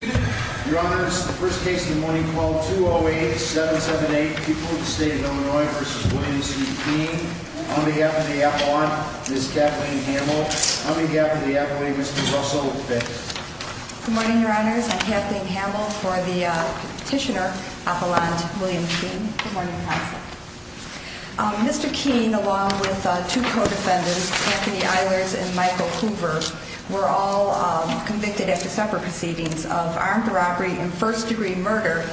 Your Honor, this is the first case in the morning called 208-778, People of the State of Illinois v. William C. Keene. On behalf of the appellant, Ms. Kathleen Hamill. On behalf of the appellate, Mr. Russell McPhail. Good morning, Your Honors. I'm Kathleen Hamill for the petitioner, Appellant William Keene. Good morning, Counselor. Mr. Keene, along with two co-defendants, Anthony Eilers and Michael Hoover, were all convicted after separate proceedings of armed robbery and first-degree murder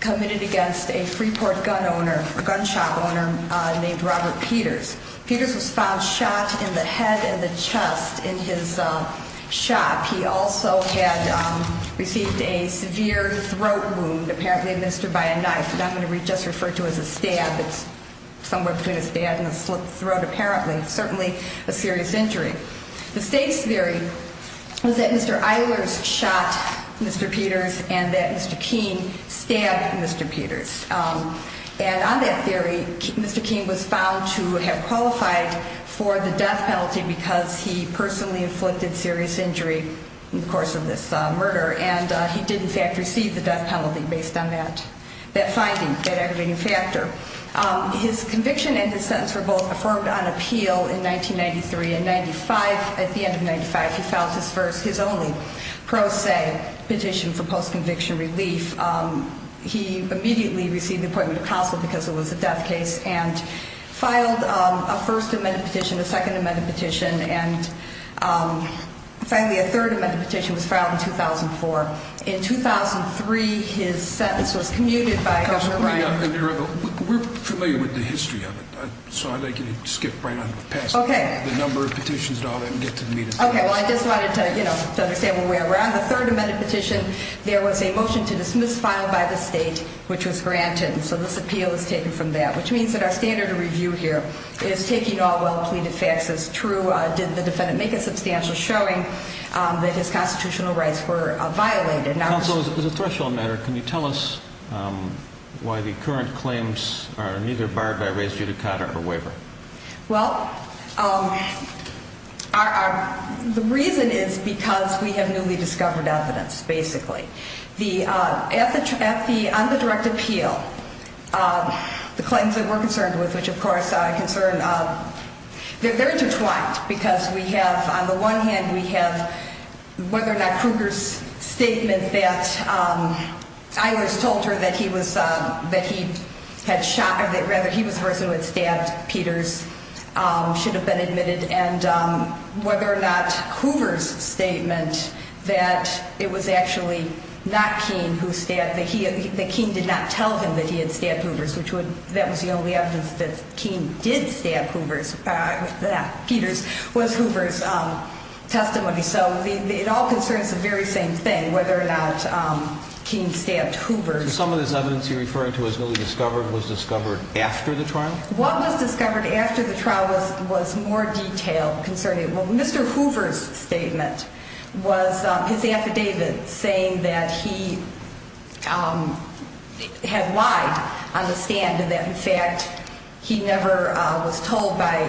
committed against a Freeport gun shop owner named Robert Peters. Peters was found shot in the head and the chest in his shop. He also had received a severe throat wound, apparently administered by a knife, and I'm going to just refer to it as a stab. It's somewhere between a stab and a slit throat, apparently. Certainly a serious injury. The state's theory was that Mr. Eilers shot Mr. Peters and that Mr. Keene stabbed Mr. Peters. And on that theory, Mr. Keene was found to have qualified for the death penalty because he personally inflicted serious injury in the course of this murder. And he did, in fact, receive the death penalty based on that finding, that aggravating factor. His conviction and his sentence were both affirmed on appeal in 1993. In 95, at the end of 95, he filed his first, his only, pro se petition for post-conviction relief. He immediately received an appointment of counsel because it was a death case and filed a first amendment petition, a second amendment petition, and finally a third amendment petition was filed in 2004. In 2003, his sentence was commuted by Governor Ryan. We're familiar with the history of it, so I'd like you to skip right on past the number of petitions and all that and get to the meat of the case. Okay. Well, I just wanted to, you know, to understand where we're at. On the third amendment petition, there was a motion to dismiss filed by the state, which was granted. So this appeal is taken from that, which means that our standard of review here is taking all well-pleaded facts as true. Did the defendant make a substantial showing that his constitutional rights were violated? Counsel, as a threshold matter, can you tell us why the current claims are neither barred by raised judicata or waiver? Well, the reason is because we have newly discovered evidence, basically. At the, on the direct appeal, the claims that we're concerned with, which of course are a concern, they're intertwined because we have, on the one hand, we have whether or not Kruger's statement that I was told her that he was, that he had shot, or rather he was the person who had stabbed Peters should have been admitted, and whether or not Hoover's statement that it was actually not Keene who stabbed, that Keene did not tell him that he had stabbed Hoover's, which would, that was the only evidence that Keene did stab Hoover's, not Peters, was Hoover's testimony. So it all concerns the very same thing, whether or not Keene stabbed Hoover. So some of this evidence you're referring to was newly discovered, was discovered after the trial? What was discovered after the trial was, was more detailed concerning, well, Mr. Hoover's statement was his affidavit saying that he had lied on the stand and that, in fact, he never was told by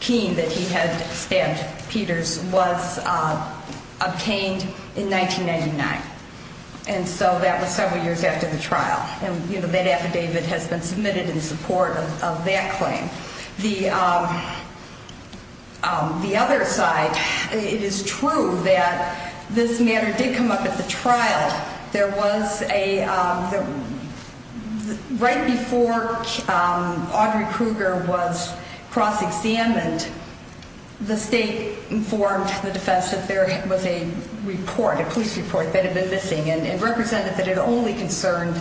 Keene that he had stabbed Peters, was obtained in 1999. And so that was several years after the trial, and that affidavit has been submitted in support of that claim. The other side, it is true that this matter did come up at the trial. But there was a, right before Audrey Kruger was cross-examined, the state informed the defense that there was a report, a police report, that had been missing, and it represented that it only concerned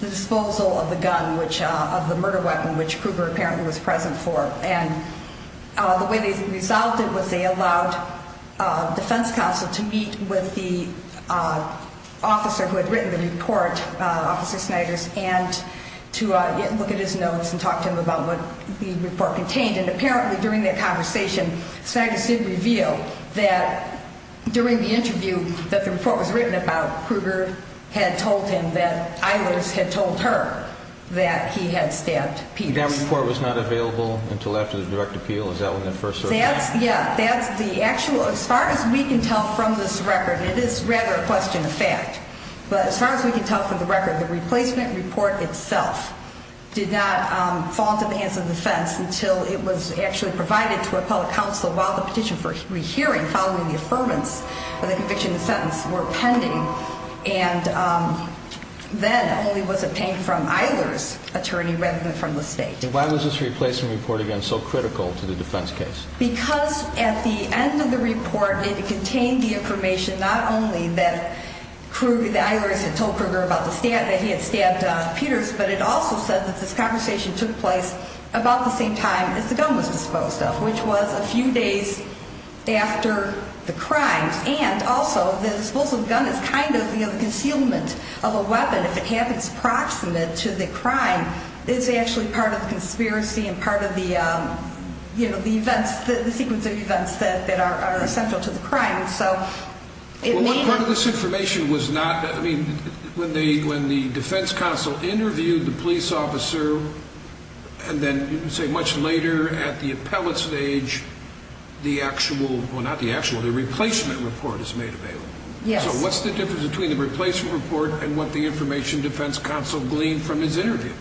the disposal of the gun, which, of the murder weapon, which Kruger apparently was present for. And the way they resolved it was they allowed defense counsel to meet with the officer who had written the report, Officer Sniders, and to look at his notes and talk to him about what the report contained. And apparently during that conversation, Sniders did reveal that during the interview that the report was written about, Kruger had told him that Eilers had told her that he had stabbed Peters. And that report was not available until after the direct appeal? Is that when it first surfaced? That's, yeah, that's the actual, as far as we can tell from this record, and it is rather a question of fact, but as far as we can tell from the record, the replacement report itself did not fall into the hands of defense until it was actually provided to a public counsel while the petition for rehearing following the affirmance of the conviction and sentence were pending. And then only was obtained from Eilers' attorney rather than from the state. And why was this replacement report, again, so critical to the defense case? Because at the end of the report, it contained the information not only that Kruger, that Eilers had told Kruger about the stab, that he had stabbed Peters, but it also said that this conversation took place about the same time as the gun was disposed of, which was a few days after the crimes. And also, the disposal of the gun is kind of the concealment of a weapon. If it happens proximate to the crime, it's actually part of the conspiracy and part of the sequence of events that are central to the crime. Well, what part of this information was not, I mean, when the defense counsel interviewed the police officer and then, say, much later at the appellate stage, the actual, well, not the actual, the replacement report is made available. Yes. So what's the difference between the replacement report and what the information defense counsel gleaned from his interview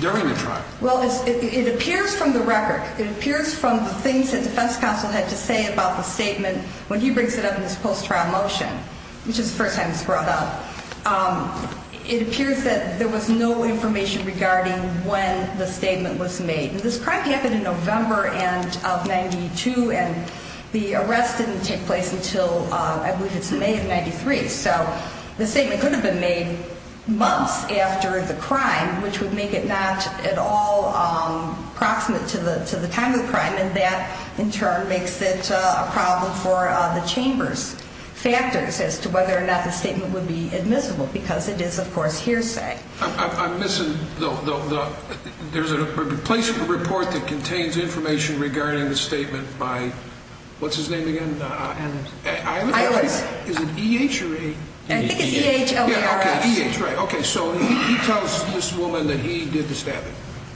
during the trial? Well, it appears from the record. It appears from the things that defense counsel had to say about the statement when he brings it up in this post-trial motion, which is the first time it's brought up. It appears that there was no information regarding when the statement was made. And this crime happened in November of 92, and the arrest didn't take place until, I believe it's May of 93. So the statement could have been made months after the crime, which would make it not at all proximate to the time of the crime. And that, in turn, makes it a problem for the chamber's factors as to whether or not the statement would be admissible because it is, of course, hearsay. I'm missing the – there's a replacement report that contains information regarding the statement by – what's his name again? Eilers. Eilers? Is it E-H or A-E-E-H? I think it's E-H-L-E-R-S. Yeah, okay, E-H, right. Okay, so he tells this woman that he did the stabbing.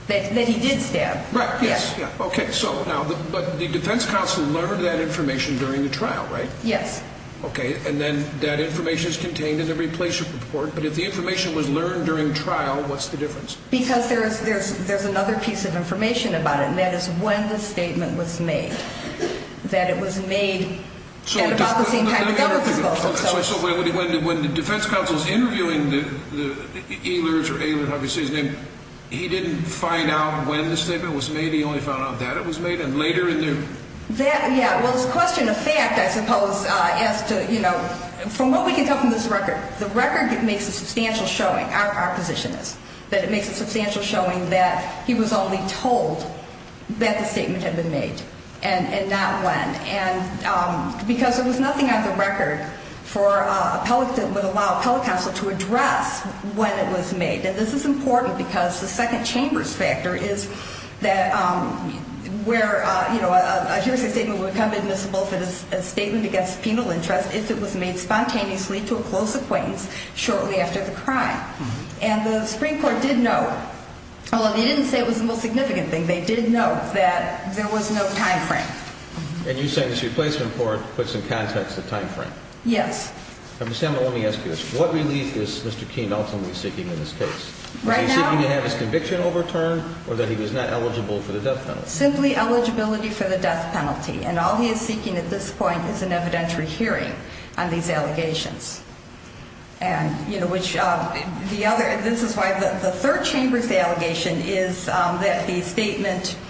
That he did stab. Right, yes, yeah. Okay, so now – but the defense counsel learned that information during the trial, right? Yes. Okay, and then that information is contained in the replacement report, but if the information was learned during trial, what's the difference? Because there's another piece of information about it, and that is when the statement was made, that it was made at about the same time the gun was disposed of. So when the defense counsel's interviewing the Eilers or Eilers, obviously, his name, he didn't find out when the statement was made? He only found out that it was made? And later in the – Yeah, well, it's a question of fact, I suppose, as to, you know, from what we can tell from this record, the record makes a substantial showing, our position is, that it makes a substantial showing that he was only told that the statement had been made and not when. And because there was nothing on the record for a – that would allow a appellate counsel to address when it was made. And this is important because the second chamber's factor is that where, you know, a hearsay statement would become admissible for a statement against penal interest if it was made spontaneously to a close acquaintance shortly after the crime. And the Supreme Court did know – well, they didn't say it was the most significant thing. They did know that there was no timeframe. And you said this replacement report puts in context the timeframe? Yes. Ms. Sandler, let me ask you this. What relief is Mr. King ultimately seeking in this case? Right now – Is he seeking to have his conviction overturned or that he was not eligible for the death penalty? Simply eligibility for the death penalty. And all he is seeking at this point is an evidentiary hearing on these allegations. And, you know, which the other – this is why the third chamber's allegation is that the statement –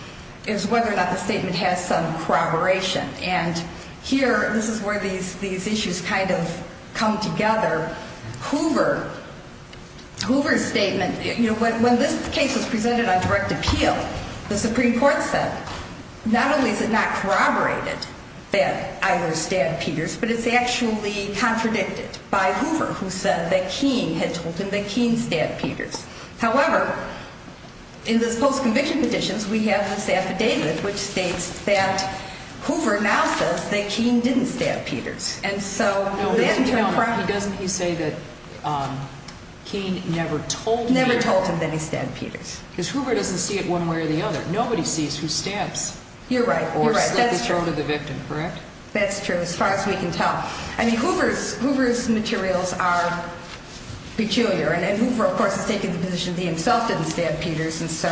is whether or not the statement has some corroboration. And here, this is where these issues kind of come together. Hoover's statement – you know, when this case was presented on direct appeal, the Supreme Court said not only is it not corroborated that either stabbed Peters, but it's actually contradicted by Hoover, who said that King had told him that King stabbed Peters. However, in this post-conviction petition, we have this affidavit, which states that Hoover now says that King didn't stab Peters. And so – No, but you know, doesn't he say that King never told him – Never told him that he stabbed Peters. Because Hoover doesn't see it one way or the other. Nobody sees who stabs – You're right. You're right. Or slit the throat of the victim, correct? That's true, as far as we can tell. I mean, Hoover's materials are peculiar. And Hoover, of course, has taken the position that he himself didn't stab Peters. And so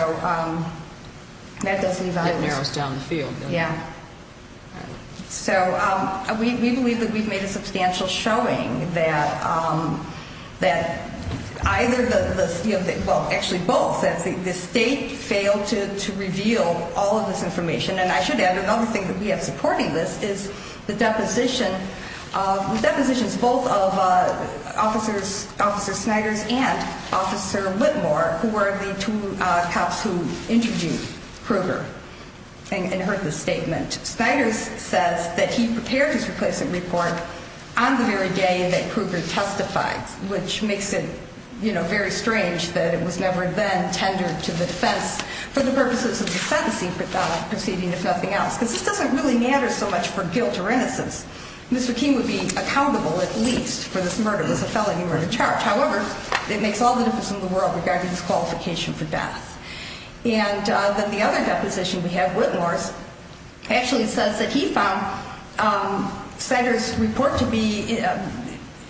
that does leave out – That narrows down the field, doesn't it? Yeah. So we believe that we've made a substantial showing that either the – well, actually both. The State failed to reveal all of this information. And I should add, another thing that we have supporting this is the deposition of – the depositions both of Officer Sniders and Officer Whitmore, who were the two cops who interviewed Kruger and heard the statement. Sniders says that he prepared his replacement report on the very day that Kruger testified, which makes it very strange that it was never then tendered to the defense for the purposes of the sentencing proceeding, if nothing else. Because this doesn't really matter so much for guilt or innocence. Mr. King would be accountable, at least, for this murder. It was a felony murder charge. However, it makes all the difference in the world regarding his qualification for death. And then the other deposition we have, Whitmore's, actually says that he found Sniders' report to be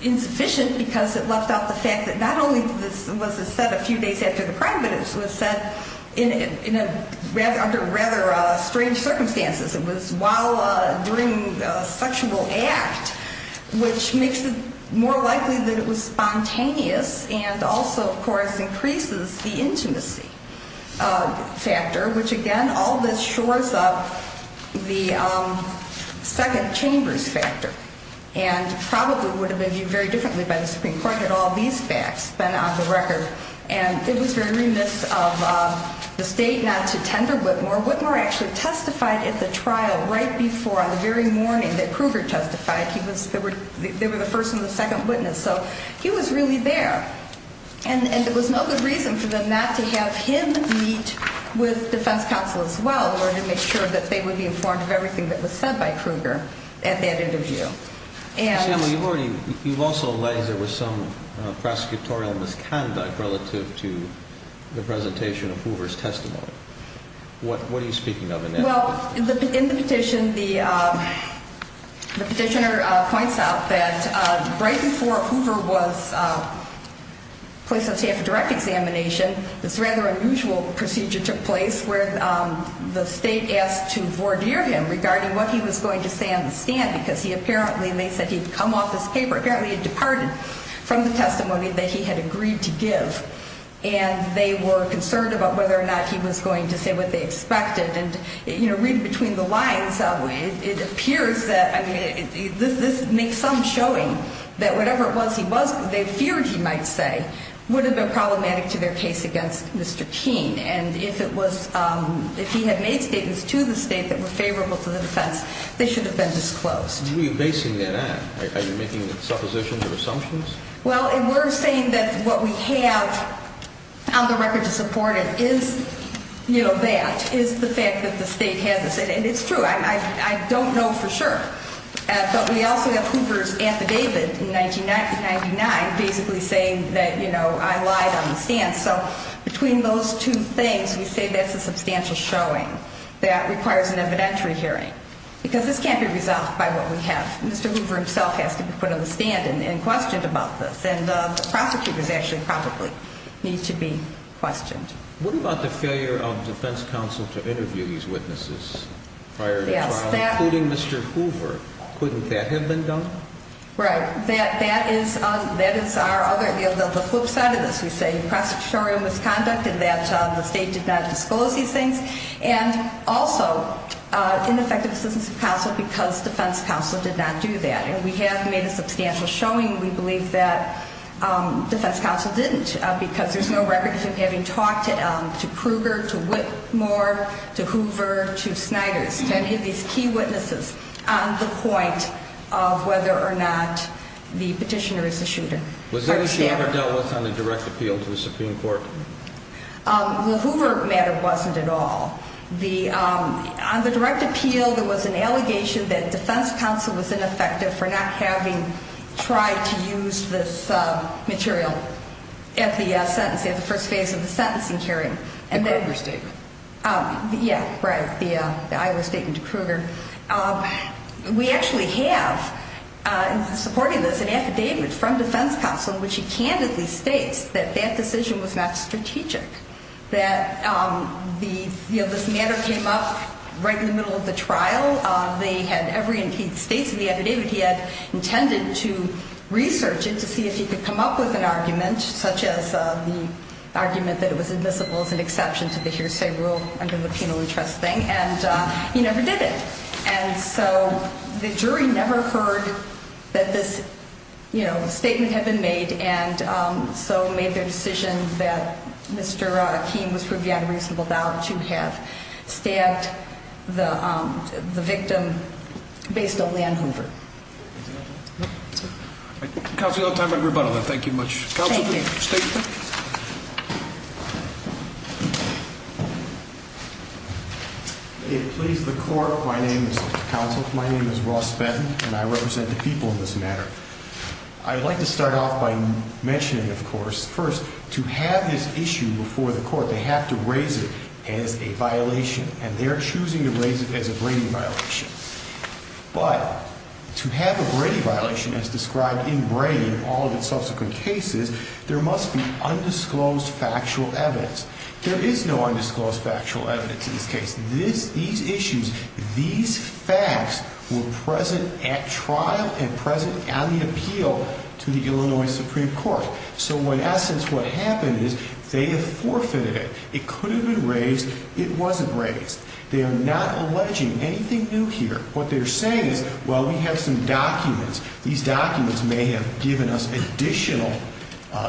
insufficient because it left out the fact that not only was it said a few days after the crime, but it was said in a – under rather strange circumstances. It was while – during a sexual act, which makes it more likely that it was spontaneous and also, of course, increases the intimacy factor, which again, all this shores up the second chamber's factor and probably would have been viewed very differently by the Supreme Court had all these facts been on the record. And it was very remiss of the state not to tender Whitmore. Whitmore actually testified at the trial right before on the very morning that Kruger testified. He was – they were the first and the second witness. So he was really there. And there was no good reason for them not to have him meet with defense counsel as well in order to make sure that they would be informed of everything that was said by Kruger at that interview. Sam, you've already – you've also alleged there was some prosecutorial misconduct relative to the presentation of Hoover's testimony. What are you speaking of in that? Well, in the petition, the petitioner points out that right before Hoover was placed on stand for direct examination, this rather unusual procedure took place where the state asked to voir dire him regarding what he was going to say on the stand because he apparently – and they said he had come off his paper – apparently had departed from the testimony that he had agreed to give. And they were concerned about whether or not he was going to say what they expected. And, you know, reading between the lines, it appears that – I mean, this makes some showing that whatever it was he was – what they feared he might say would have been problematic to their case against Mr. Keene. And if it was – if he had made statements to the state that were favorable to the defense, they should have been disclosed. Are you basing that on – are you making suppositions or assumptions? Well, we're saying that what we have on the record to support it is, you know, that, is the fact that the state has – and it's true. I don't know for sure. But we also have Hoover's affidavit in 1999 basically saying that, you know, I lied on the stand. So between those two things, we say that's a substantial showing that requires an evidentiary hearing because this can't be resolved by what we have. Mr. Hoover himself has to be put on the stand and questioned about this. And the prosecutors actually probably need to be questioned. What about the failure of defense counsel to interview these witnesses prior to trial, including Mr. Hoover? Couldn't that have been done? Right. That is our other – the flip side of this. We say prosecutorial misconduct and that the state did not disclose these things. And also, ineffective assistance of counsel because defense counsel did not do that. And we have made a substantial showing. We believe that defense counsel didn't because there's no record of him having talked to Krueger, to Whitmore, to Hoover, to Sniders, to any of these key witnesses on the point of whether or not the petitioner is a shooter. Was any of this ever dealt with on a direct appeal to the Supreme Court? Well, Hoover matter wasn't at all. On the direct appeal, there was an allegation that defense counsel was ineffective for not having tried to use this material at the first phase of the sentencing hearing. The Krueger statement. Yeah, right. The Iowa statement to Krueger. We actually have, in supporting this, an affidavit from defense counsel in which he candidly states that that decision was not strategic. That this matter came up right in the middle of the trial. He states in the affidavit he had intended to research it to see if he could come up with an argument, such as the argument that it was admissible as an exception to the hearsay rule under the penal interest thing. And he never did it. And so the jury never heard that this, you know, statement had been made. And so made the decision that Mr. Keene was proven on reasonable doubt to have stabbed the victim based only on Hoover. Counsel, you'll have time for a rebuttal. Thank you much. Thank you. May it please the Court, my name is counsel, my name is Ross Benton, and I represent the people in this matter. I'd like to start off by mentioning, of course, first, to have this issue before the Court, they have to raise it as a violation. And they're choosing to raise it as a Brady violation. But to have a Brady violation as described in Brady and all of its subsequent cases, there must be undisclosed factual evidence. There is no undisclosed factual evidence in this case. These issues, these facts were present at trial and present on the appeal to the Illinois Supreme Court. So in essence, what happened is they have forfeited it. It could have been raised. It wasn't raised. They are not alleging anything new here. What they're saying is, well, we have some documents. These documents may have given us additional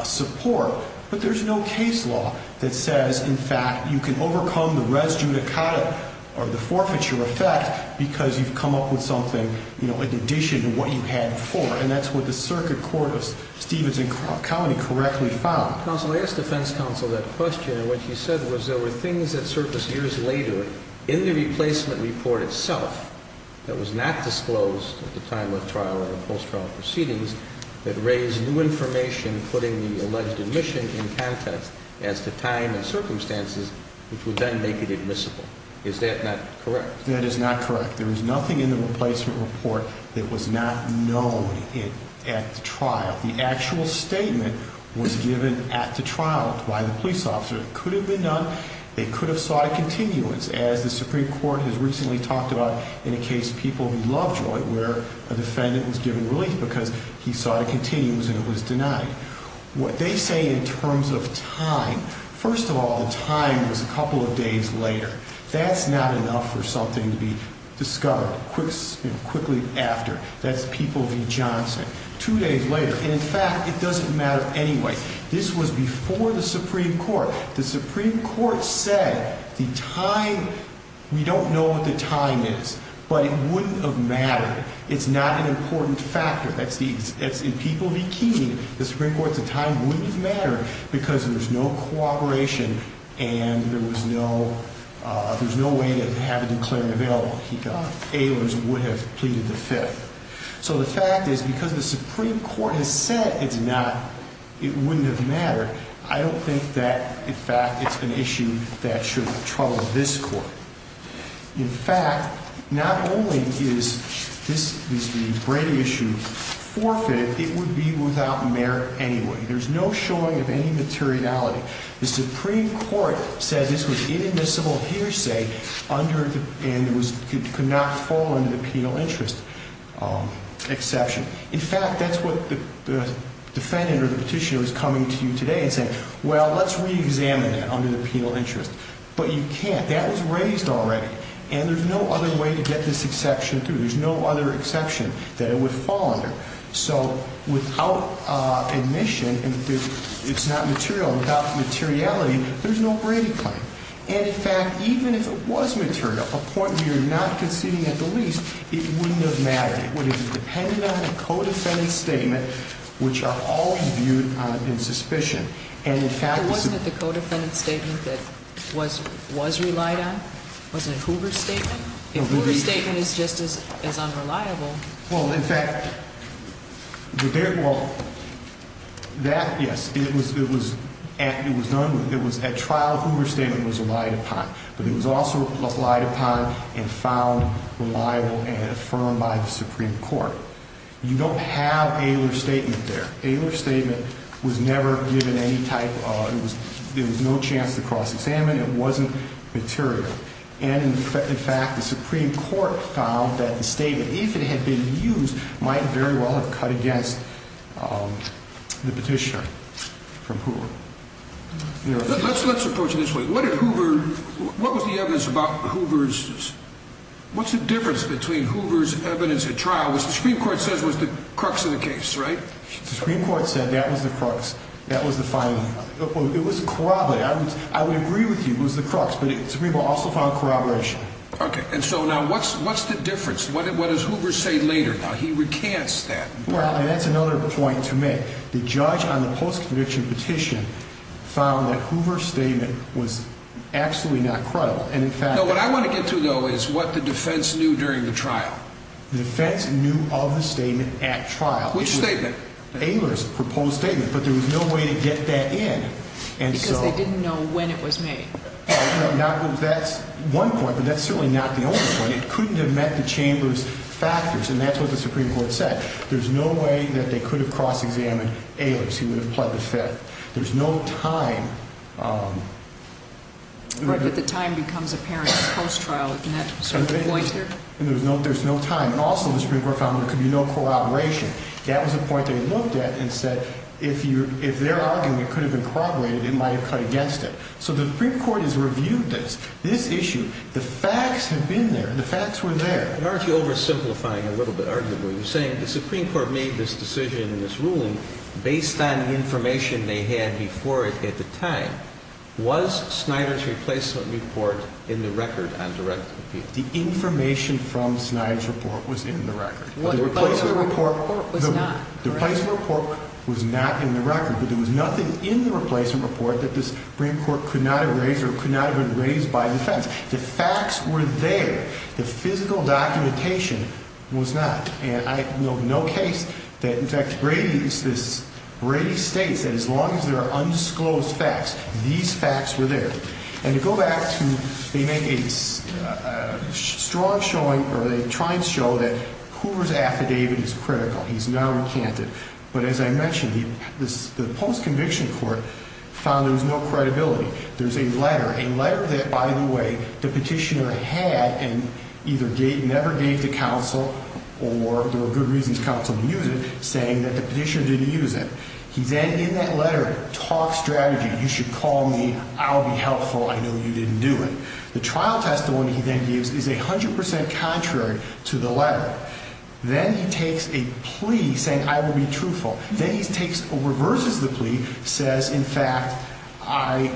support. But there's no case law that says, in fact, you can overcome the res judicata or the forfeiture effect because you've come up with something, you know, in addition to what you had before. And that's what the Circuit Court of Stevens and County correctly found. Counsel, I asked the defense counsel that question. And what he said was there were things that surfaced years later in the replacement report itself that was not disclosed at the time of trial or post-trial proceedings that raised new information, putting the alleged admission in context as to time and circumstances, which would then make it admissible. Is that not correct? That is not correct. There is nothing in the replacement report that was not known at the trial. The actual statement was given at the trial by the police officer. It could have been done. They could have sought a continuance, as the Supreme Court has recently talked about in a case, People v. Lovejoy, where a defendant was given relief because he sought a continuance and it was denied. What they say in terms of time, first of all, the time was a couple of days later. That's not enough for something to be discovered quickly after. That's People v. Johnson. Two days later. And, in fact, it doesn't matter anyway. This was before the Supreme Court. The Supreme Court said the time, we don't know what the time is, but it wouldn't have mattered. It's not an important factor. In People v. Keeney, the Supreme Court said time wouldn't have mattered because there was no cooperation and there was no way to have a declarant available. Ailers would have pleaded the Fifth. So the fact is, because the Supreme Court has said it's not, it wouldn't have mattered. I don't think that, in fact, it's an issue that should trouble this court. In fact, not only is the Brady issue forfeited, it would be without merit anyway. There's no showing of any materiality. The Supreme Court said this was inadmissible hearsay and could not fall under the penal interest exception. In fact, that's what the defendant or the petitioner was coming to you today and saying, well, let's reexamine that under the penal interest. But you can't. That was raised already. And there's no other way to get this exception through. There's no other exception that it would fall under. So without admission, it's not material. Without materiality, there's no Brady claim. And, in fact, even if it was material, a point where you're not conceding at the least, it wouldn't have mattered. It would have depended on a co-defendant's statement, which are always viewed in suspicion. And, in fact- Wasn't it the co-defendant's statement that was relied on? Wasn't it Hoover's statement? If Hoover's statement is just as unreliable- Well, in fact, that, yes, it was done with. It was at trial Hoover's statement was relied upon. But it was also relied upon and found reliable and affirmed by the Supreme Court. You don't have Aylor's statement there. Aylor's statement was never given any type of- there was no chance to cross-examine. It wasn't material. And, in fact, the Supreme Court found that the statement, if it had been used, might very well have cut against the petitioner from Hoover. Let's approach it this way. What did Hoover- what was the evidence about Hoover's- what's the difference between Hoover's evidence at trial, which the Supreme Court says was the crux of the case, right? The Supreme Court said that was the crux. That was the final- it was corroborated. I would agree with you it was the crux, but the Supreme Court also found corroboration. Okay. And so now what's the difference? What does Hoover say later? Now, he recants that. Well, and that's another point to make. The judge on the post-conviction petition found that Hoover's statement was absolutely not credible. And, in fact- No, what I want to get to, though, is what the defense knew during the trial. The defense knew of the statement at trial. Which statement? Aylor's proposed statement, but there was no way to get that in. Because they didn't know when it was made. Now, that's one point, but that's certainly not the only point. It couldn't have met the chamber's factors, and that's what the Supreme Court said. There's no way that they could have cross-examined Aylor's. He would have pled the fifth. There's no time. Right, but the time becomes apparent post-trial, isn't that sort of the pointer? And there's no time. And also the Supreme Court found there could be no corroboration. That was a point they looked at and said if their argument could have been corroborated, it might have cut against it. So the Supreme Court has reviewed this. This issue, the facts have been there. The facts were there. Aren't you oversimplifying a little bit, arguably? You're saying the Supreme Court made this decision in this ruling based on information they had before it at the time. Was Snyder's replacement report in the record on direct appeal? The information from Snyder's report was in the record. But the replacement report was not, correct? The replacement report was not in the record. But there was nothing in the replacement report that the Supreme Court could not have raised or could not have raised by defense. The facts were there. The physical documentation was not. And I know of no case that, in fact, Brady states that as long as there are undisclosed facts, these facts were there. And to go back to, they make a strong showing or they try and show that Hoover's affidavit is critical. He's now recanted. But as I mentioned, the post-conviction court found there was no credibility. There's a letter, a letter that, by the way, the petitioner had and either never gave to counsel or there were good reasons counsel didn't use it, saying that the petitioner didn't use it. He then, in that letter, talks strategy. You should call me. I'll be helpful. I know you didn't do it. The trial testimony he then gives is 100% contrary to the letter. Then he takes a plea, saying I will be truthful. Then he takes or reverses the plea, says, in fact, I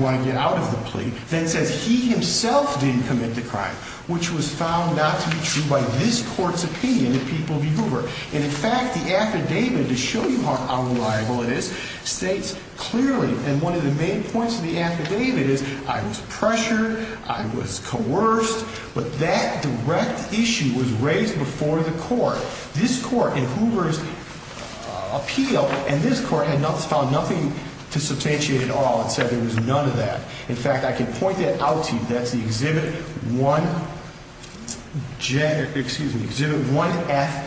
want to get out of the plea. Then says he himself didn't commit the crime, which was found not to be true by this court's opinion that people view Hoover. And, in fact, the affidavit, to show you how reliable it is, states clearly, and one of the main points of the affidavit is I was pressured, I was coerced, but that direct issue was raised before the court. This court in Hoover's appeal and this court had found nothing to substantiate at all and said there was none of that. In fact, I can point that out to you. That's the Exhibit 1F,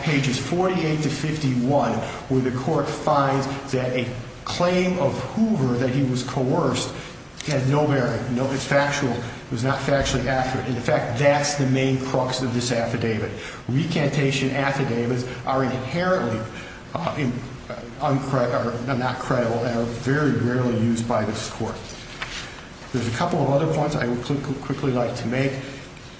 pages 48 to 51, where the court finds that a claim of Hoover that he was coerced had no bearing. It's factual. It was not factually accurate. In fact, that's the main crux of this affidavit. Recantation affidavits are inherently not credible and are very rarely used by this court. There's a couple of other points I would quickly like to make.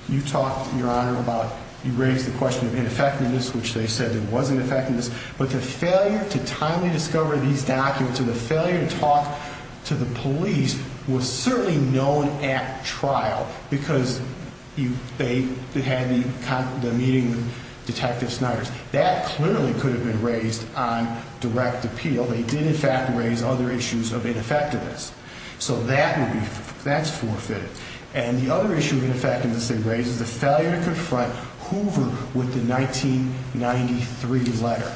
You talked, Your Honor, about you raised the question of ineffectiveness, which they said there was ineffectiveness. But the failure to timely discover these documents and the failure to talk to the police was certainly known at trial because they had the meeting with Detective Snyder. That clearly could have been raised on direct appeal. They did, in fact, raise other issues of ineffectiveness. So that's forfeited. And the other issue of ineffectiveness they raised is the failure to confront Hoover with the 1993 letter.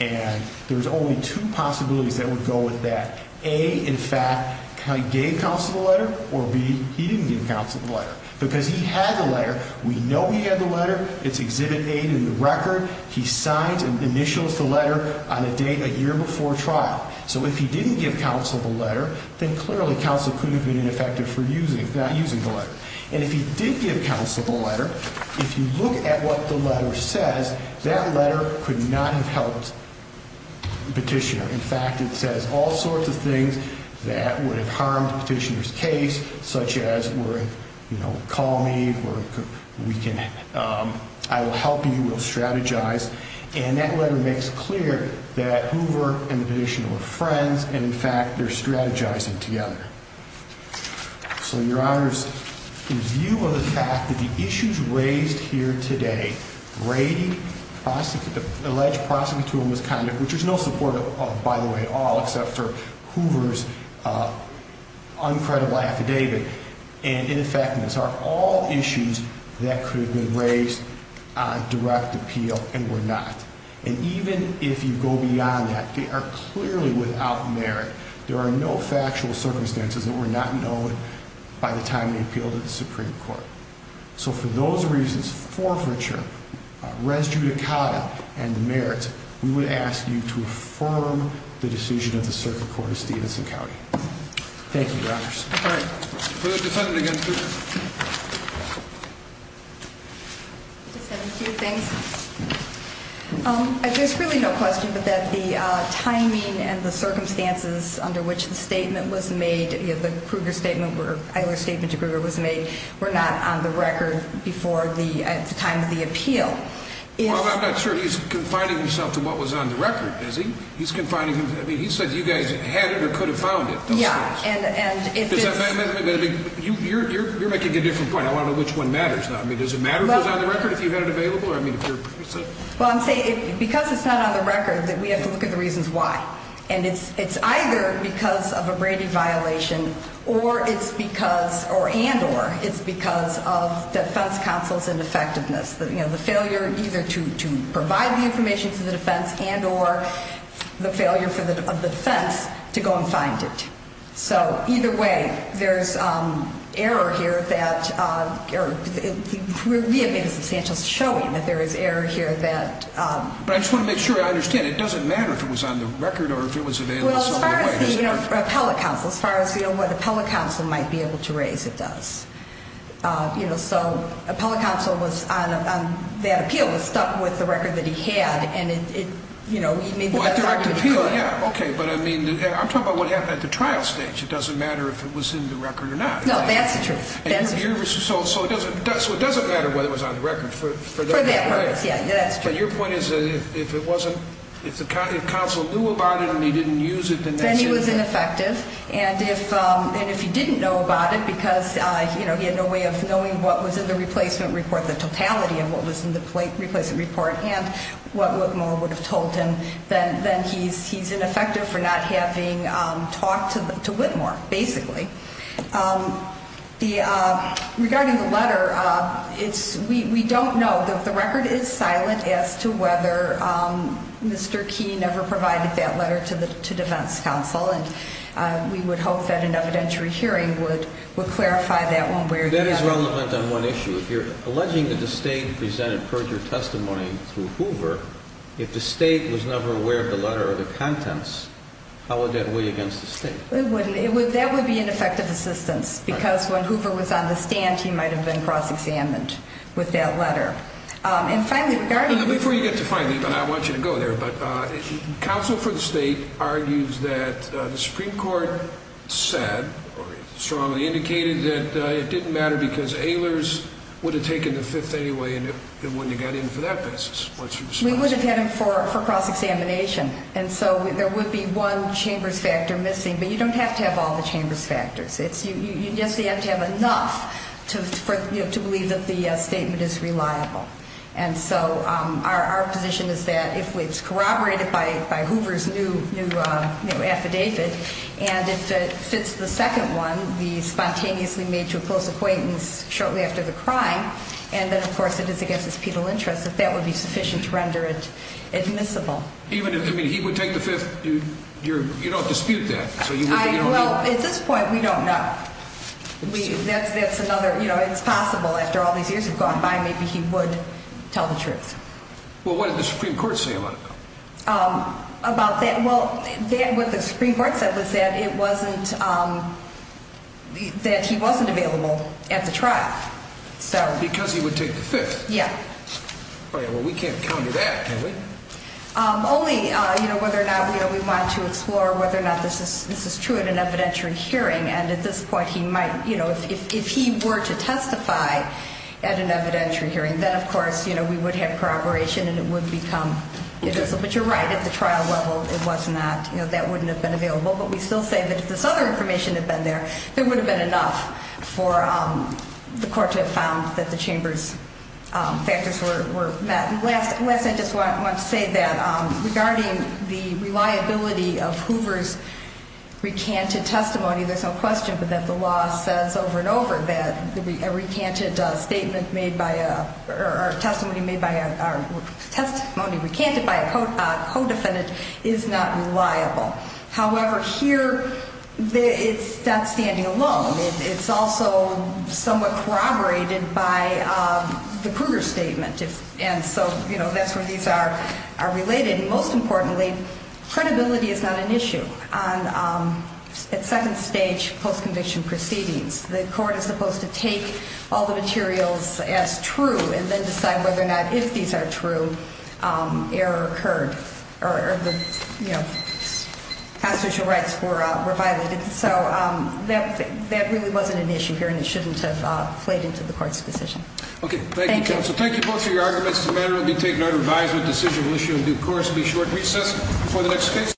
And there's only two possibilities that would go with that. A, in fact, he gave counsel the letter, or B, he didn't give counsel the letter. Because he had the letter. We know he had the letter. It's Exhibit A in the record. He signs and initials the letter on a date a year before trial. So if he didn't give counsel the letter, then clearly counsel could have been ineffective for using it. And if he did give counsel the letter, if you look at what the letter says, that letter could not have helped Petitioner. In fact, it says all sorts of things that would have harmed Petitioner's case, such as, you know, call me, I will help you, we'll strategize. And that letter makes clear that Hoover and Petitioner were friends, and, in fact, they're strategizing together. So, Your Honors, in view of the fact that the issues raised here today, rating, alleged prosecutorial misconduct, which there's no support of, by the way, at all, except for Hoover's uncredible affidavit, and ineffectiveness are all issues that could have been raised on direct appeal and were not. And even if you go beyond that, they are clearly without merit. There are no factual circumstances that were not known by the time they appealed to the Supreme Court. So for those reasons, forfeiture, res judicata, and merits, we would ask you to affirm the decision of the Circuit Court of Stevenson County. Thank you, Your Honors. All right. For the defendant against Hoover. I just have a few things. There's really no question but that the timing and the circumstances under which the statement was made, you know, the Kruger statement, Eiler's statement to Kruger was made, were not on the record before the time of the appeal. Well, I'm not sure he's confining himself to what was on the record, is he? He's confining himself. I mean, he said you guys had it or could have found it. Yeah. You're making a different point. I want to know which one matters now. I mean, does it matter if it was on the record, if you had it available? Well, I'm saying because it's not on the record that we have to look at the reasons why. And it's either because of a Brady violation or it's because, and or, it's because of defense counsel's ineffectiveness. You know, the failure either to provide the information to the defense and or the failure of the defense to go and find it. So either way, there's error here that we have made a substantial showing that there is error here that. But I just want to make sure I understand. It doesn't matter if it was on the record or if it was available. Well, as far as the appellate counsel, as far as what the appellate counsel might be able to raise, it does. You know, so appellate counsel was on that appeal, was stuck with the record that he had. And it, you know, he made the best argument he could. Well, at the appeal, yeah. Okay. But I mean, I'm talking about what happened at the trial stage. It doesn't matter if it was in the record or not. No, that's the truth. That's the truth. So it doesn't matter whether it was on the record for that matter. For that purpose, yeah. That's true. But your point is that if it wasn't, if counsel knew about it and he didn't use it, then that's ineffective. Then he was ineffective. And if he didn't know about it because, you know, he had no way of knowing what was in the replacement report, the totality of what was in the replacement report, and what Whitmore would have told him, then he's ineffective for not having talked to Whitmore, basically. Regarding the letter, we don't know. The record is silent as to whether Mr. Key never provided that letter to defense counsel. And we would hope that an evidentiary hearing would clarify that one. That is relevant on one issue. If you're alleging that the state presented perjured testimony through Hoover, if the state was never aware of the letter or the contents, how would that weigh against the state? That would be an effective assistance because when Hoover was on the stand, he might have been cross-examined with that letter. Before you get to finally, I want you to go there, but counsel for the state argues that the Supreme Court said, or strongly indicated that it didn't matter because Ehlers would have taken the fifth anyway and it wouldn't have got in for that basis. We would have had him for cross-examination. And so there would be one chambers factor missing. But you don't have to have all the chambers factors. You just have to have enough to believe that the statement is reliable. And so our position is that if it's corroborated by Hoover's new affidavit and if it fits the second one, be spontaneously made to a close acquaintance shortly after the crime, and then of course it is against his penal interest, if that would be sufficient to render it admissible. Even if he would take the fifth, you don't dispute that? Well, at this point we don't know. That's another, you know, it's possible after all these years have gone by, maybe he would tell the truth. Well, what did the Supreme Court say about it? About that, well, what the Supreme Court said was that it wasn't, that he wasn't available at the trial. Because he would take the fifth? Yeah. Well, we can't counter that, can we? Only, you know, whether or not we want to explore whether or not this is true at an evidentiary hearing. And at this point he might, you know, if he were to testify at an evidentiary hearing, then of course, you know, we would have corroboration and it would become admissible. But you're right, at the trial level it was not, you know, that wouldn't have been available. But we still say that if this other information had been there, there would have been enough for the court to have found that the chambers factors were met. Last, I just want to say that regarding the reliability of Hoover's recanted testimony, there's no question but that the law says over and over that a recanted statement made by a, or testimony made by a, testimony recanted by a co-defendant is not reliable. However, here it's not standing alone. It's also somewhat corroborated by the Kruger statement. And so, you know, that's where these are related. And most importantly, credibility is not an issue on second stage post-conviction proceedings. The court is supposed to take all the materials as true and then decide whether or not if these are true, error occurred or, you know, constitutional rights were violated. So that really wasn't an issue here and it shouldn't have played into the court's decision. Okay. Thank you, counsel. Thank you both for your arguments. The matter will be taken under advisement. Decision will issue in due course. Be sure to reach us for the next case.